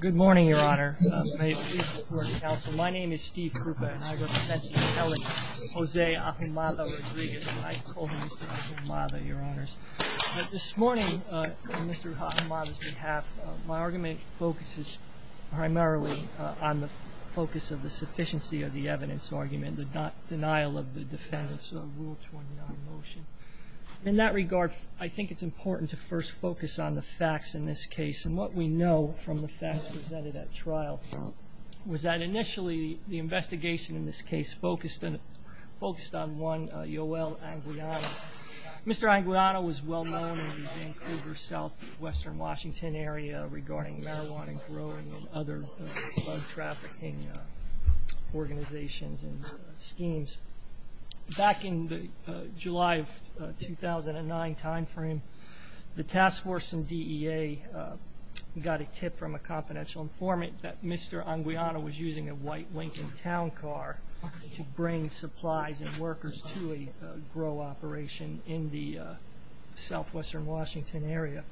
Good morning, Your Honor. My name is Steve Krupa, and I represent the Italian Jose Ahumada-Rodriguez. I told Mr. Ahumada, Your Honors, that this morning, on Mr. Ahumada's behalf, my argument focuses primarily on the focus of the sufficiency of the evidence argument, the denial of the defendant's Rule 29 motion. In that regard, I think it's important to first focus on the facts in this case, and what we know from the facts presented at trial, was that initially the investigation in this case focused on one, Yoel Anguiano. Mr. Anguiano was well known in the Vancouver Southwestern Washington area regarding marijuana growing and other drug trafficking organizations and schemes. Back in the July of 2009 time frame, the task force and DEA got a tip from a confidential informant that Mr. Anguiano was using a white Lincoln Town car to bring supplies and workers to a grow operation in the Southwestern Washington area.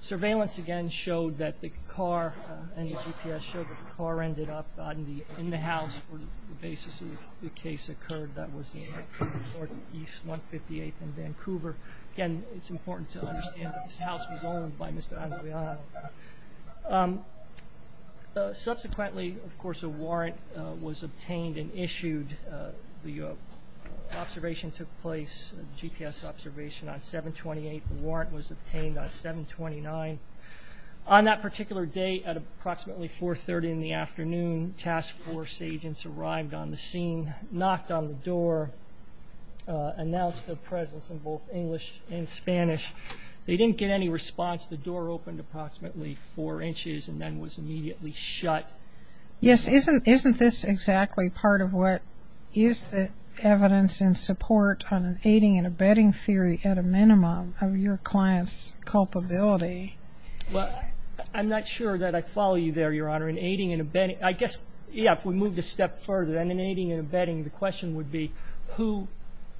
Surveillance again showed that the car, and the GPS showed that the car ended up in the house where the basis of the case occurred. That was in Northeast 158th and Vancouver. Again, it's important to understand that this house was owned by Mr. Anguiano. Subsequently, of course, a warrant was obtained and issued. The observation took place, the GPS observation, on 7-28. The warrant was obtained on 7-29. On that particular day at approximately 4-30 in the afternoon, task force agents arrived on the scene, knocked on the door, announced their presence in both English and Spanish. They didn't get any response. The door opened approximately four inches and then was immediately shut. Yes, isn't this exactly part of what is the evidence in support on an aiding and abetting theory at a minimum of your client's culpability? Well, I'm not sure that I follow you there, Your Honor. In aiding and abetting, I guess, yeah, if we move a step further, then in aiding and abetting the question would be who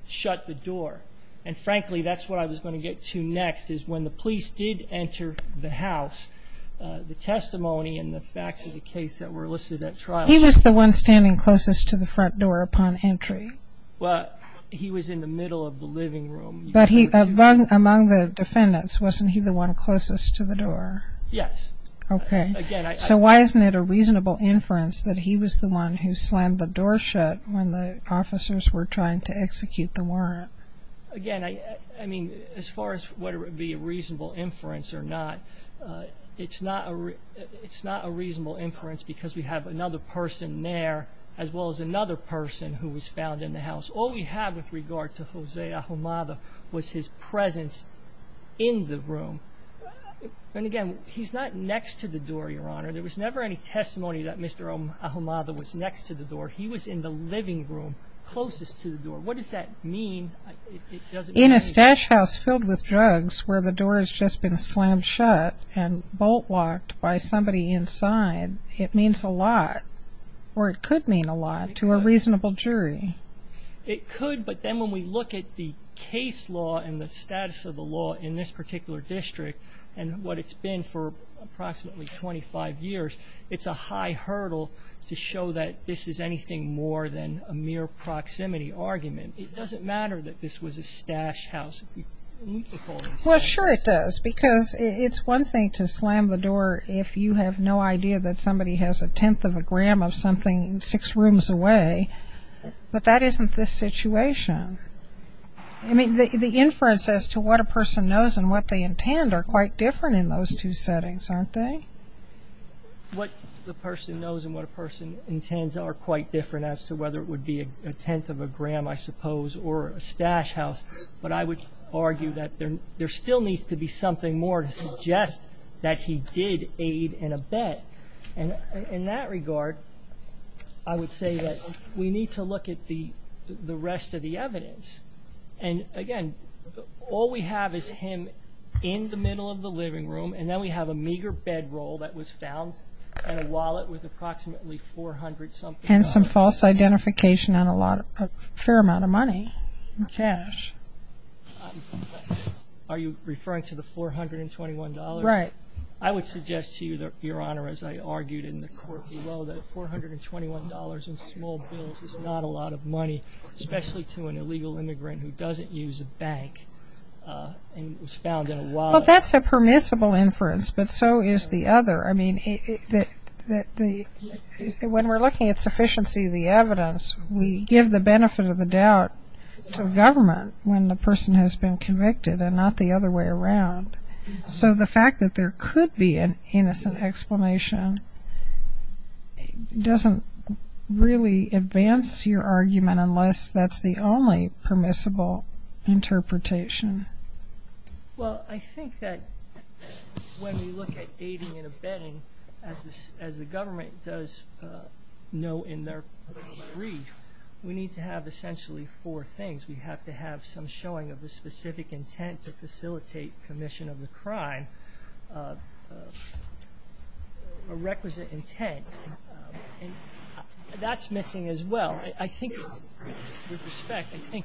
shut the door. And frankly, that's what I was going to get to next is when the police did enter the house, the testimony and the facts of the case that were listed at trial. He was the one standing closest to the front door upon entry. Well, he was in the middle of the living room. But among the defendants, wasn't he the one closest to the door? Yes. Okay. So why isn't it a reasonable inference that he was the one who slammed the door shut when the officers were trying to execute the warrant? Again, I mean, as far as whether it be a reasonable inference or not, it's not a reasonable inference because we have another person there as well as another person who was found in the house. All we have with regard to Jose Ahumada was his presence in the room. And again, he's not next to the door, Your Honor. There was never any testimony that Mr. Ahumada was next to the door. He was in the living room closest to the door. What does that mean? In a stash house filled with drugs where the door has just been slammed shut and bolt-locked by somebody inside, it means a lot, or it could mean a lot to a reasonable jury. It could, but then when we look at the case law and the status of the law in this particular district and what it's been for approximately 25 years, it's a high hurdle to show that this is anything more than a mere proximity argument. It doesn't matter that this was a stash house. Well, sure it does because it's one thing to slam the door if you have no idea that somebody has a tenth of a gram of something six rooms away, but that isn't this situation. I mean, the inference as to what a person knows and what they intend are quite different in those two settings, aren't they? What the person knows and what a person intends are quite different as to whether it would be a tenth of a gram, I suppose, or a stash house. But I would argue that there still needs to be something more to suggest that he did aid in a bet. And in that regard, I would say that we need to look at the rest of the evidence. And again, all we have is him in the middle of the living room and then we have a meager bedroll that was found in a wallet with approximately 400-something dollars. That's some false identification on a fair amount of money and cash. Are you referring to the $421? Right. I would suggest to you, Your Honor, as I argued in the court below, that $421 in small bills is not a lot of money, especially to an illegal immigrant who doesn't use a bank and was found in a wallet. Well, that's a permissible inference, but so is the other. I mean, when we're looking at sufficiency of the evidence, we give the benefit of the doubt to government when the person has been convicted and not the other way around. So the fact that there could be an innocent explanation doesn't really advance your argument unless that's the only permissible interpretation. Well, I think that when we look at aiding and abetting, as the government does know in their brief, we need to have essentially four things. We have to have some showing of the specific intent to facilitate commission of the crime, a requisite intent, and that's missing as well. I think, with respect, I think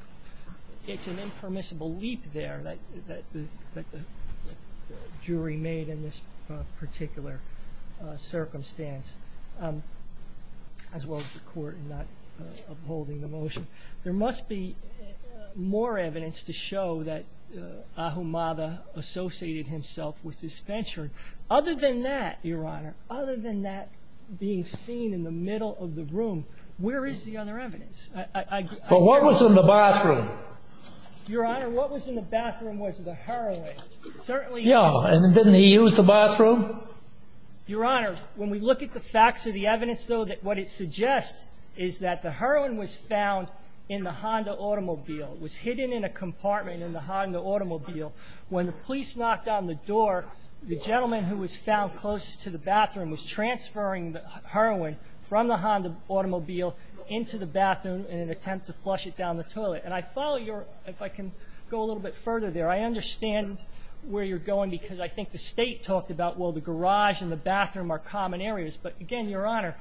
it's an impermissible leap there that the jury made in this particular circumstance, as well as the court not upholding the motion. There must be more evidence to show that Ahumada associated himself with this venture. Other than that, Your Honor, other than that being seen in the middle of the room, where is the other evidence? Well, what was in the bathroom? Your Honor, what was in the bathroom was the heroin. Yeah, and didn't he use the bathroom? Your Honor, when we look at the facts of the evidence, though, what it suggests is that the heroin was found in the Honda automobile. It was hidden in a compartment in the Honda automobile. When the police knocked on the door, the gentleman who was found closest to the bathroom was transferring the heroin from the Honda automobile into the bathroom in an attempt to flush it down the toilet. And I follow your – if I can go a little bit further there. I understand where you're going because I think the State talked about, well, the garage and the bathroom are common areas. But, again, Your Honor,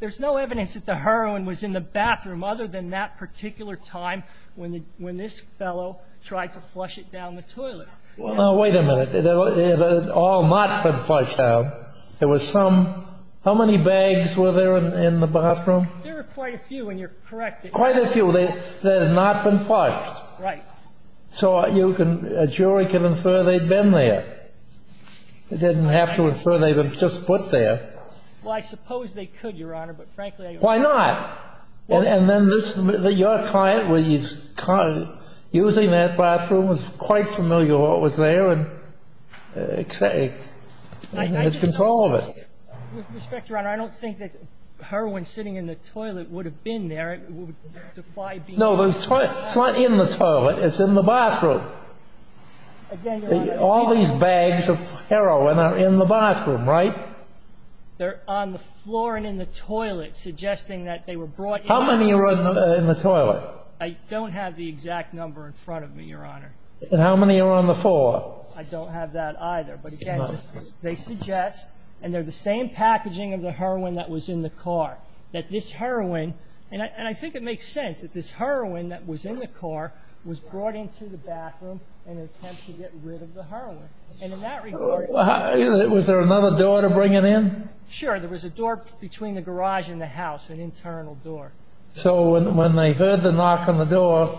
there's no evidence that the heroin was in the bathroom other than that particular time when this fellow tried to flush it down the toilet. Well, now, wait a minute. It had all not been flushed down. There was some – how many bags were there in the bathroom? There were quite a few, and you're correct. Quite a few. They had not been flushed. Right. So a jury can infer they'd been there. It doesn't have to infer they were just put there. Well, I suppose they could, Your Honor, but, frankly, I don't know. Why not? And then your client, using that bathroom, was quite familiar with what was there and had control of it. With respect, Your Honor, I don't think that heroin sitting in the toilet would have been there. It would defy being there. No, it's not in the toilet. It's in the bathroom. All these bags of heroin are in the bathroom, right? They're on the floor and in the toilet, suggesting that they were brought in. How many are in the toilet? I don't have the exact number in front of me, Your Honor. And how many are on the floor? I don't have that either. But, again, they suggest, and they're the same packaging of the heroin that was in the car, that this heroin – and I think it makes sense that this heroin that was in the car was brought into the bathroom in an attempt to get rid of the heroin. Was there another door to bring it in? Sure. There was a door between the garage and the house, an internal door. So when they heard the knock on the door,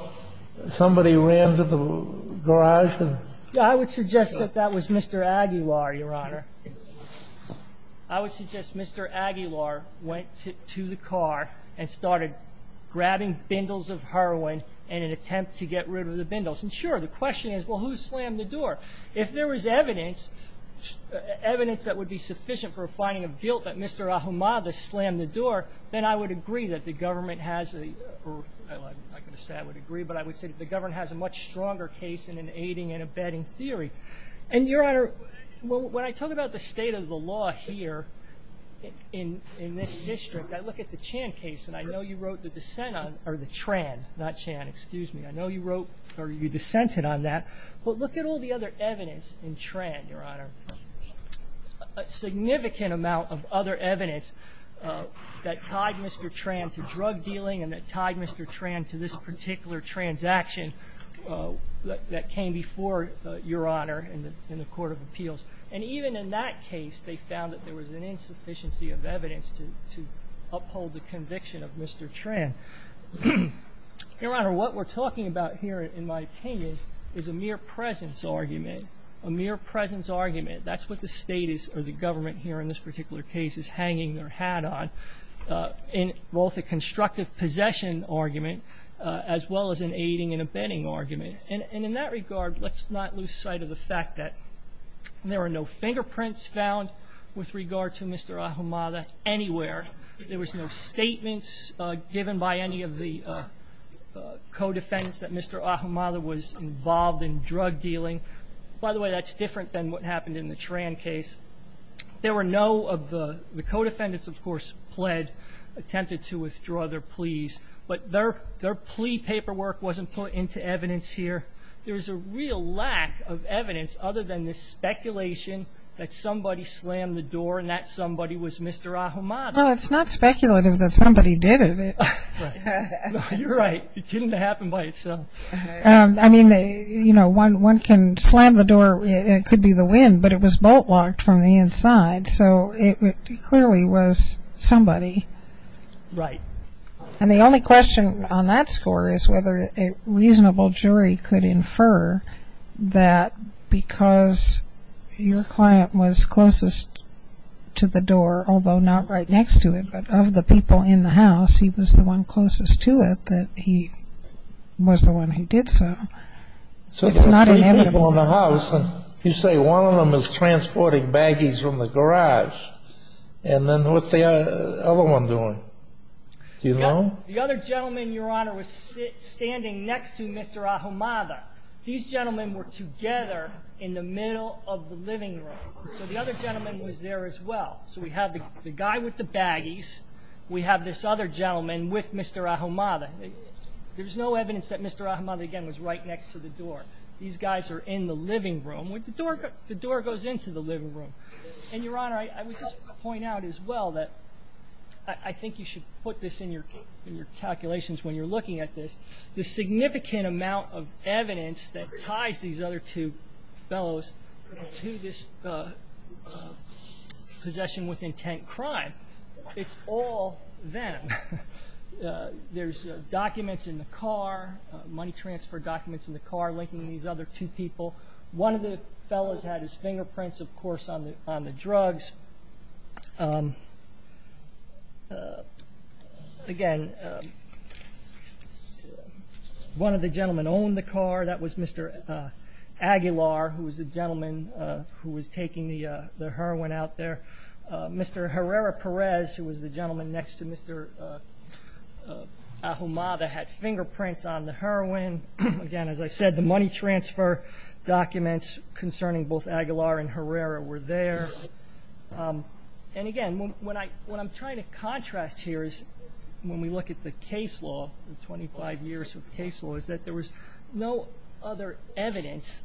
somebody ran to the garage? I would suggest that that was Mr. Aguilar, Your Honor. I would suggest Mr. Aguilar went to the car and started grabbing bindles of heroin in an attempt to get rid of the bindles. And, sure, the question is, well, who slammed the door? If there was evidence, evidence that would be sufficient for a finding of guilt that Mr. Ahumada slammed the door, then I would agree that the government has a – well, I'm not going to say I would agree, but I would say that the government has a much stronger case in an aiding and abetting theory. And, Your Honor, when I talk about the state of the law here in this district, I look at the Chan case, and I know you wrote the dissent on – or the Tran, not Chan. Excuse me. I know you wrote – or you dissented on that. But look at all the other evidence in Tran, Your Honor, a significant amount of other evidence that tied Mr. Tran to drug dealing and that tied Mr. Tran to this particular transaction that came before Your Honor in the Court of Appeals. And even in that case, they found that there was an insufficiency of evidence to uphold the conviction of Mr. Tran. Your Honor, what we're talking about here, in my opinion, is a mere presence argument, a mere presence argument. That's what the state is – or the government here in this particular case is hanging their hat on, both a constructive possession argument as well as an aiding and abetting argument. And in that regard, let's not lose sight of the fact that there are no fingerprints found with regard to Mr. Ahumada anywhere. There was no statements given by any of the co-defendants that Mr. Ahumada was involved in drug dealing. By the way, that's different than what happened in the Tran case. There were no of the co-defendants, of course, pled attempted to withdraw their pleas. But their plea paperwork wasn't put into evidence here. There's a real lack of evidence other than this speculation that somebody slammed the door and that somebody was Mr. Ahumada. No, it's not speculative that somebody did it. You're right. It didn't happen by itself. I mean, you know, one can slam the door. It could be the wind, but it was bolt-locked from the inside. So it clearly was somebody. Right. And the only question on that score is whether a reasonable jury could infer that because your client was closest to the door, although not right next to it, but of the people in the house, he was the one closest to it, that he was the one who did so. It's not inevitable. So there's three people in the house, and you say one of them is transporting baggies from the garage. And then what's the other one doing? Do you know? The other gentleman, Your Honor, was standing next to Mr. Ahumada. These gentlemen were together in the middle of the living room. So the other gentleman was there as well. So we have the guy with the baggies. We have this other gentleman with Mr. Ahumada. There's no evidence that Mr. Ahumada, again, was right next to the door. These guys are in the living room. The door goes into the living room. And, Your Honor, I would just point out as well that I think you should put this in your calculations when you're looking at this. The significant amount of evidence that ties these other two fellows to this possession with intent crime, it's all them. There's documents in the car, money transfer documents in the car, linking these other two people. One of the fellows had his fingerprints, of course, on the drugs. Again, one of the gentlemen owned the car. That was Mr. Aguilar, who was the gentleman who was taking the heroin out there. Mr. Herrera-Perez, who was the gentleman next to Mr. Ahumada, had fingerprints on the heroin. Again, as I said, the money transfer documents concerning both Aguilar and Herrera were there. Again, what I'm trying to contrast here is when we look at the case law, the 25 years of case law, is that there was no other evidence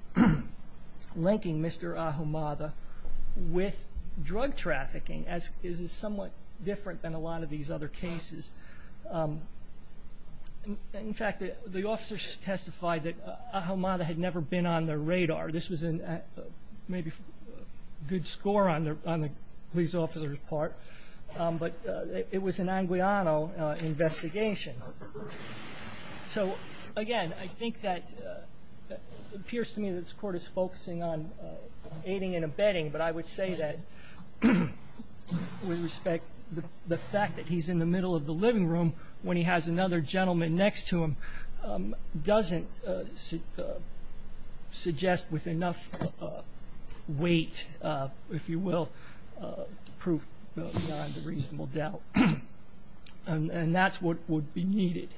linking Mr. Ahumada with drug trafficking. This is somewhat different than a lot of these other cases. In fact, the officers testified that Ahumada had never been on their radar. This was maybe a good score on the police officer's part, but it was an Anguiano investigation. Again, it appears to me that this court is focusing on aiding and abetting, but I would say that with respect, the fact that he's in the middle of the living room when he has another gentleman next to him doesn't suggest with enough weight, if you will, the proof behind the reasonable doubt. And that's what would be needed.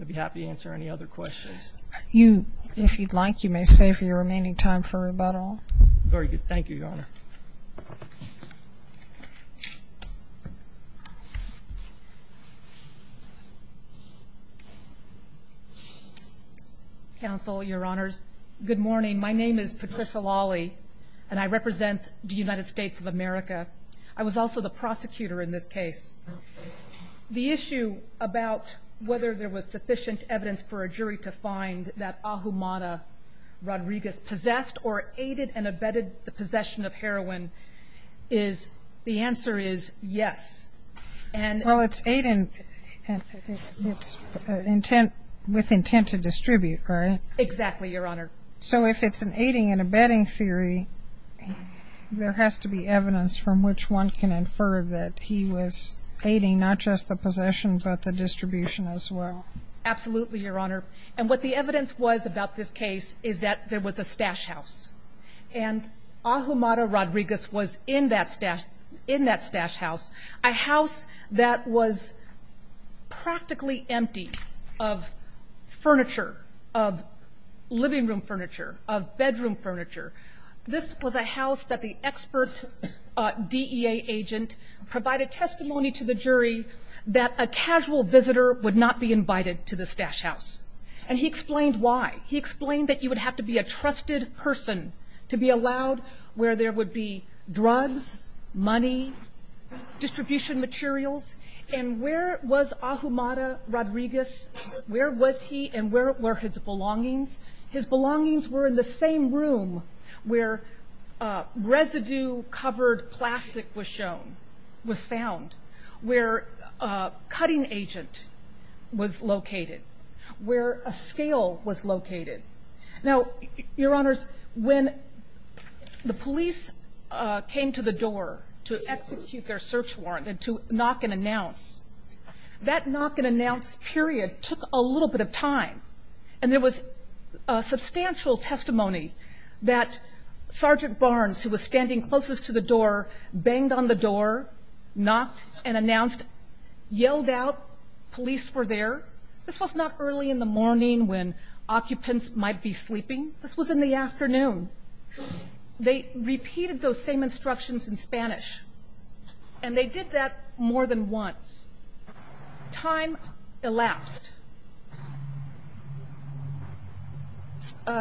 I'd be happy to answer any other questions. If you'd like, you may save your remaining time for rebuttal. Very good. Thank you, Your Honor. Counsel, Your Honors, good morning. My name is Patricia Lawley, and I represent the United States of America. I was also the prosecutor in this case. The issue about whether there was sufficient evidence for a jury to find that Ahumada Rodriguez possessed or aided and abetted the possession of heroin is the answer is yes. Well, it's with intent to distribute, right? Exactly, Your Honor. So if it's an aiding and abetting theory, there has to be evidence from which one can infer that he was aiding not just the possession but the distribution as well. Absolutely, Your Honor. And what the evidence was about this case is that there was a stash house, and Ahumada Rodriguez was in that stash house. A house that was practically empty of furniture, of living room furniture, of bedroom furniture. This was a house that the expert DEA agent provided testimony to the jury that a casual visitor would not be invited to the stash house. And he explained why. He explained that you would have to be a trusted person to be allowed where there would be drugs, money, distribution materials. And where was Ahumada Rodriguez? Where was he and where were his belongings? His belongings were in the same room where residue-covered plastic was shown, was found, where a cutting agent was located, where a scale was located. Now, Your Honors, when the police came to the door to execute their search warrant and to knock and announce, that knock and announce period took a little bit of time. And there was substantial testimony that Sergeant Barnes, who was standing closest to the door, banged on the door, knocked and announced, yelled out, police were there. This was not early in the morning when occupants might be sleeping. This was in the afternoon. They repeated those same instructions in Spanish. And they did that more than once. Time elapsed.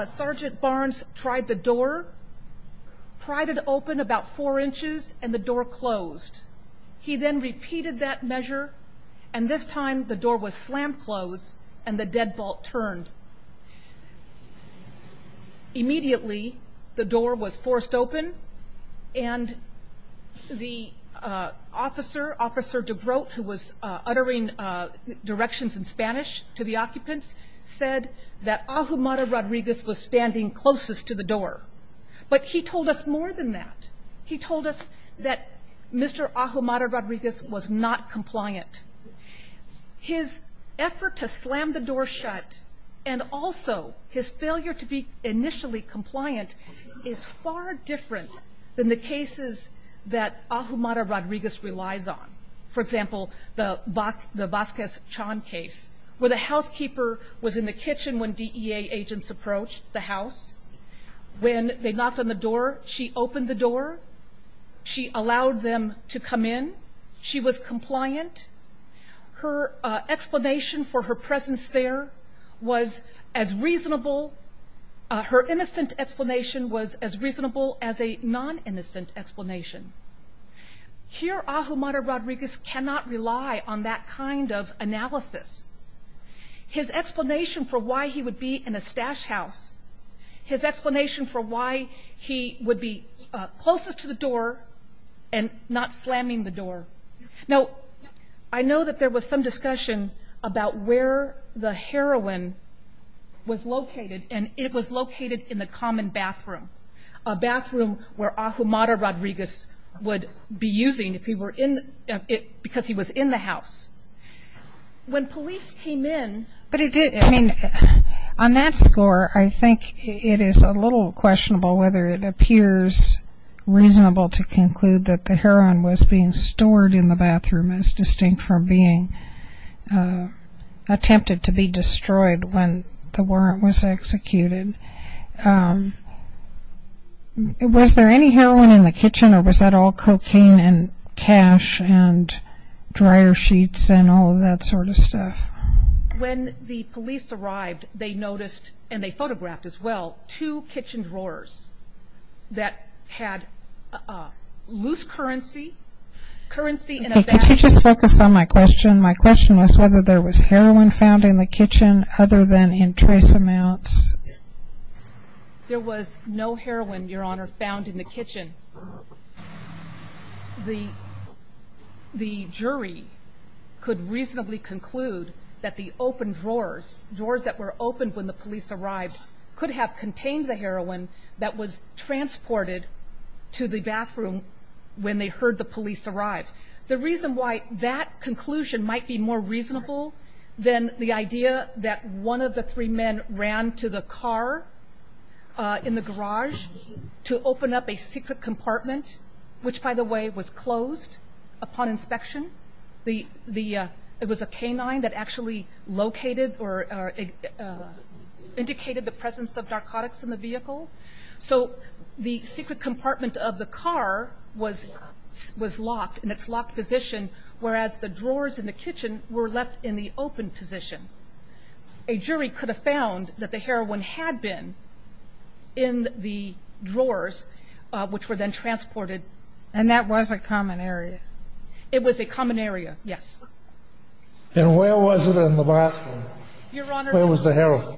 Sergeant Barnes tried the door, pried it open about four inches, and the door closed. He then repeated that measure, and this time the door was slammed closed and the deadbolt turned. Immediately the door was forced open, and the officer, Officer DeGroat, who was uttering directions in Spanish to the occupants, said that Ahumada Rodriguez was standing closest to the door. But he told us more than that. He told us that Mr. Ahumada Rodriguez was not compliant. His effort to slam the door shut and also his failure to be initially compliant is far different than the cases that Ahumada Rodriguez relies on. For example, the Vasquez-Chan case, where the housekeeper was in the kitchen when DEA agents approached the house. When they knocked on the door, she opened the door. She allowed them to come in. She was compliant. Her explanation for her presence there was as reasonable. Her innocent explanation was as reasonable as a non-innocent explanation. Here Ahumada Rodriguez cannot rely on that kind of analysis. His explanation for why he would be in a stash house, his explanation for why he would be closest to the door and not slamming the door. Now, I know that there was some discussion about where the heroin was located, and it was located in the common bathroom, a bathroom where Ahumada Rodriguez would be using because he was in the house. When police came in... But it did, I mean, on that score, I think it is a little questionable whether it appears reasonable to conclude that the heroin was being stored in the bathroom as distinct from being attempted to be destroyed when the warrant was executed. Was there any heroin in the kitchen, or was that all cocaine and cash and dryer sheets and all of that sort of stuff? When the police arrived, they noticed, and they photographed as well, two kitchen drawers that had loose currency, currency in a bag... Okay, could you just focus on my question? There was no heroin, Your Honor, found in the kitchen. The jury could reasonably conclude that the open drawers, drawers that were opened when the police arrived, could have contained the heroin that was transported to the bathroom when they heard the police arrive. The reason why that conclusion might be more reasonable than the idea that one of the three men ran to the car in the garage to open up a secret compartment, which, by the way, was closed upon inspection. It was a canine that actually located or indicated the presence of narcotics in the vehicle. So the secret compartment of the car was locked in its locked position, whereas the drawers in the kitchen were left in the open position. A jury could have found that the heroin had been in the drawers, which were then transported. And that was a common area? It was a common area, yes. And where was it in the bathroom? Your Honor... Where was the heroin?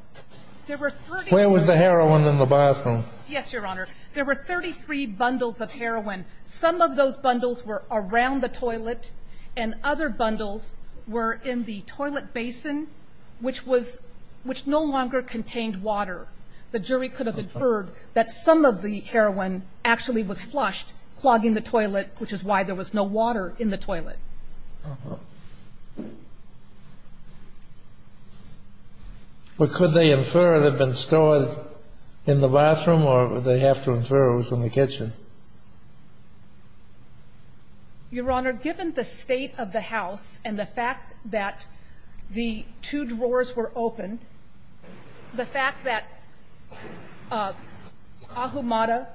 There were 33... Where was the heroin in the bathroom? Yes, Your Honor. There were 33 bundles of heroin. Some of those bundles were around the toilet, and other bundles were in the toilet basin, which was no longer contained water. The jury could have inferred that some of the heroin actually was flushed, clogging the toilet, which is why there was no water in the toilet. Uh-huh. But could they infer it had been stored in the bathroom, or did they have to infer it was in the kitchen? Your Honor, given the state of the house and the fact that the two drawers were open, the fact that Ahumada,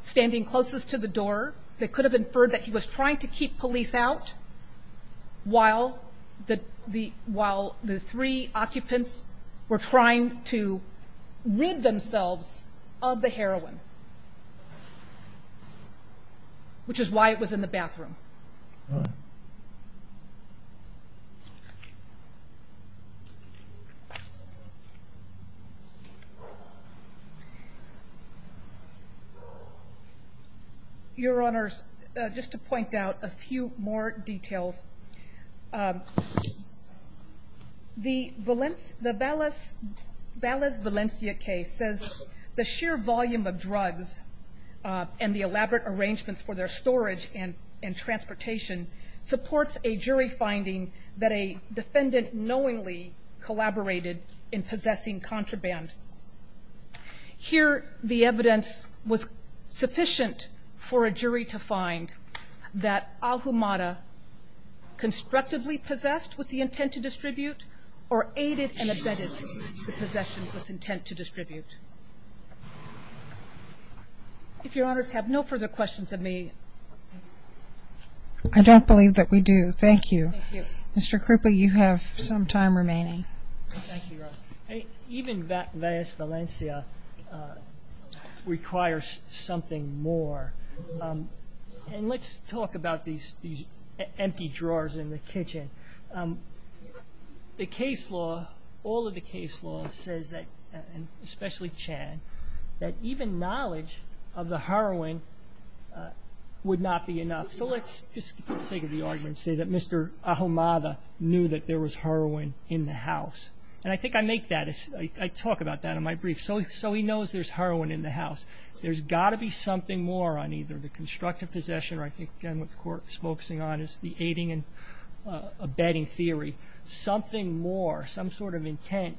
standing closest to the door, they could have inferred that he was trying to keep police out while the three occupants were trying to rid themselves of the heroin, which is why it was in the bathroom. Uh-huh. Your Honors, just to point out a few more details, the Valles-Valencia case says the sheer volume of drugs and the elaborate arrangements for their storage and transportation supports a jury finding that a defendant knowingly collaborated in possessing contraband. Here, the evidence was sufficient for a jury to find that Ahumada constructively possessed with the intent to distribute or aided and abetted the possession with intent to distribute. If Your Honors have no further questions of me. I don't believe that we do. Thank you. Thank you. Mr. Krupa, you have some time remaining. Thank you, Your Honor. Even Valles-Valencia requires something more. And let's talk about these empty drawers in the kitchen. The case law, all of the case law says that, especially Chan, that even knowledge of the heroin would not be enough. So let's just, for the sake of the argument, say that Mr. Ahumada knew that there was heroin in the house. And I think I make that, I talk about that in my brief. So he knows there's heroin in the house. There's got to be something more on either the constructive possession, or I think again what the Court is focusing on is the aiding and abetting theory, something more, some sort of intent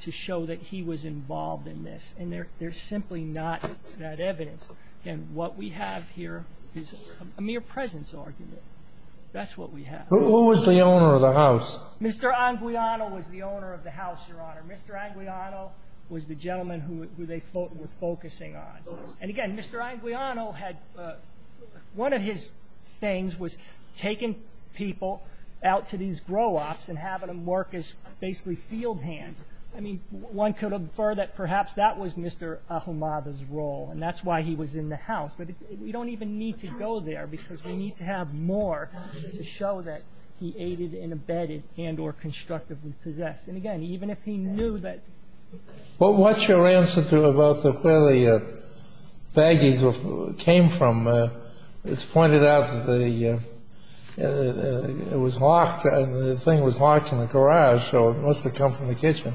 to show that he was involved in this. And there's simply not that evidence. And what we have here is a mere presence argument. That's what we have. Who was the owner of the house? Mr. Anguiano was the owner of the house, Your Honor. Mr. Anguiano was the gentleman who they were focusing on. And again, Mr. Anguiano had, one of his things was taking people out to these grow-ups and having them work as basically field hands. I mean, one could infer that perhaps that was Mr. Ahumada's role, and that's why he was in the house. But we don't even need to go there because we need to have more to show that he aided and abetted and or constructively possessed. And again, even if he knew that. But what's your answer to about where the baggage came from? It's pointed out that the thing was locked in the garage, so it must have come from the kitchen.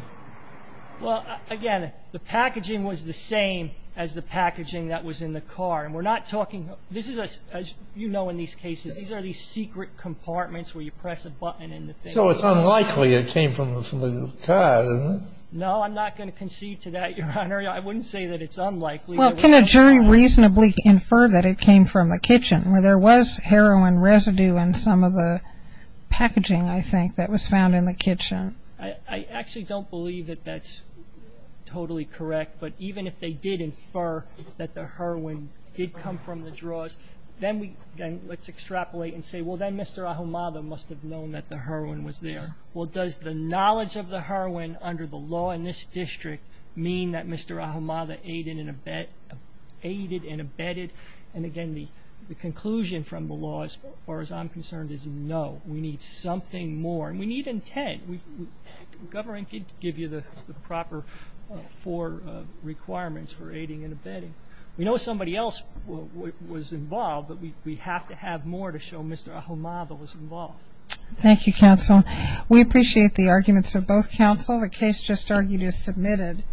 Well, again, the packaging was the same as the packaging that was in the car. And we're not talking, this is, as you know in these cases, these are these secret compartments where you press a button and the thing comes out. So it's unlikely it came from the car, isn't it? No, I'm not going to concede to that, Your Honor. I wouldn't say that it's unlikely. Well, can a jury reasonably infer that it came from a kitchen where there was heroin residue in some of the packaging, I think, that was found in the kitchen? I actually don't believe that that's totally correct. But even if they did infer that the heroin did come from the drawers, then let's extrapolate and say, well, then Mr. Ahumada must have known that the heroin was there. Well, does the knowledge of the heroin under the law in this district mean that Mr. Ahumada aided and abetted? And, again, the conclusion from the law, as far as I'm concerned, is no. We need something more. And we need intent. Government could give you the proper four requirements for aiding and abetting. We know somebody else was involved, but we have to have more to show Mr. Ahumada was involved. Thank you, counsel. We appreciate the arguments of both counsel. The case just argued is submitted.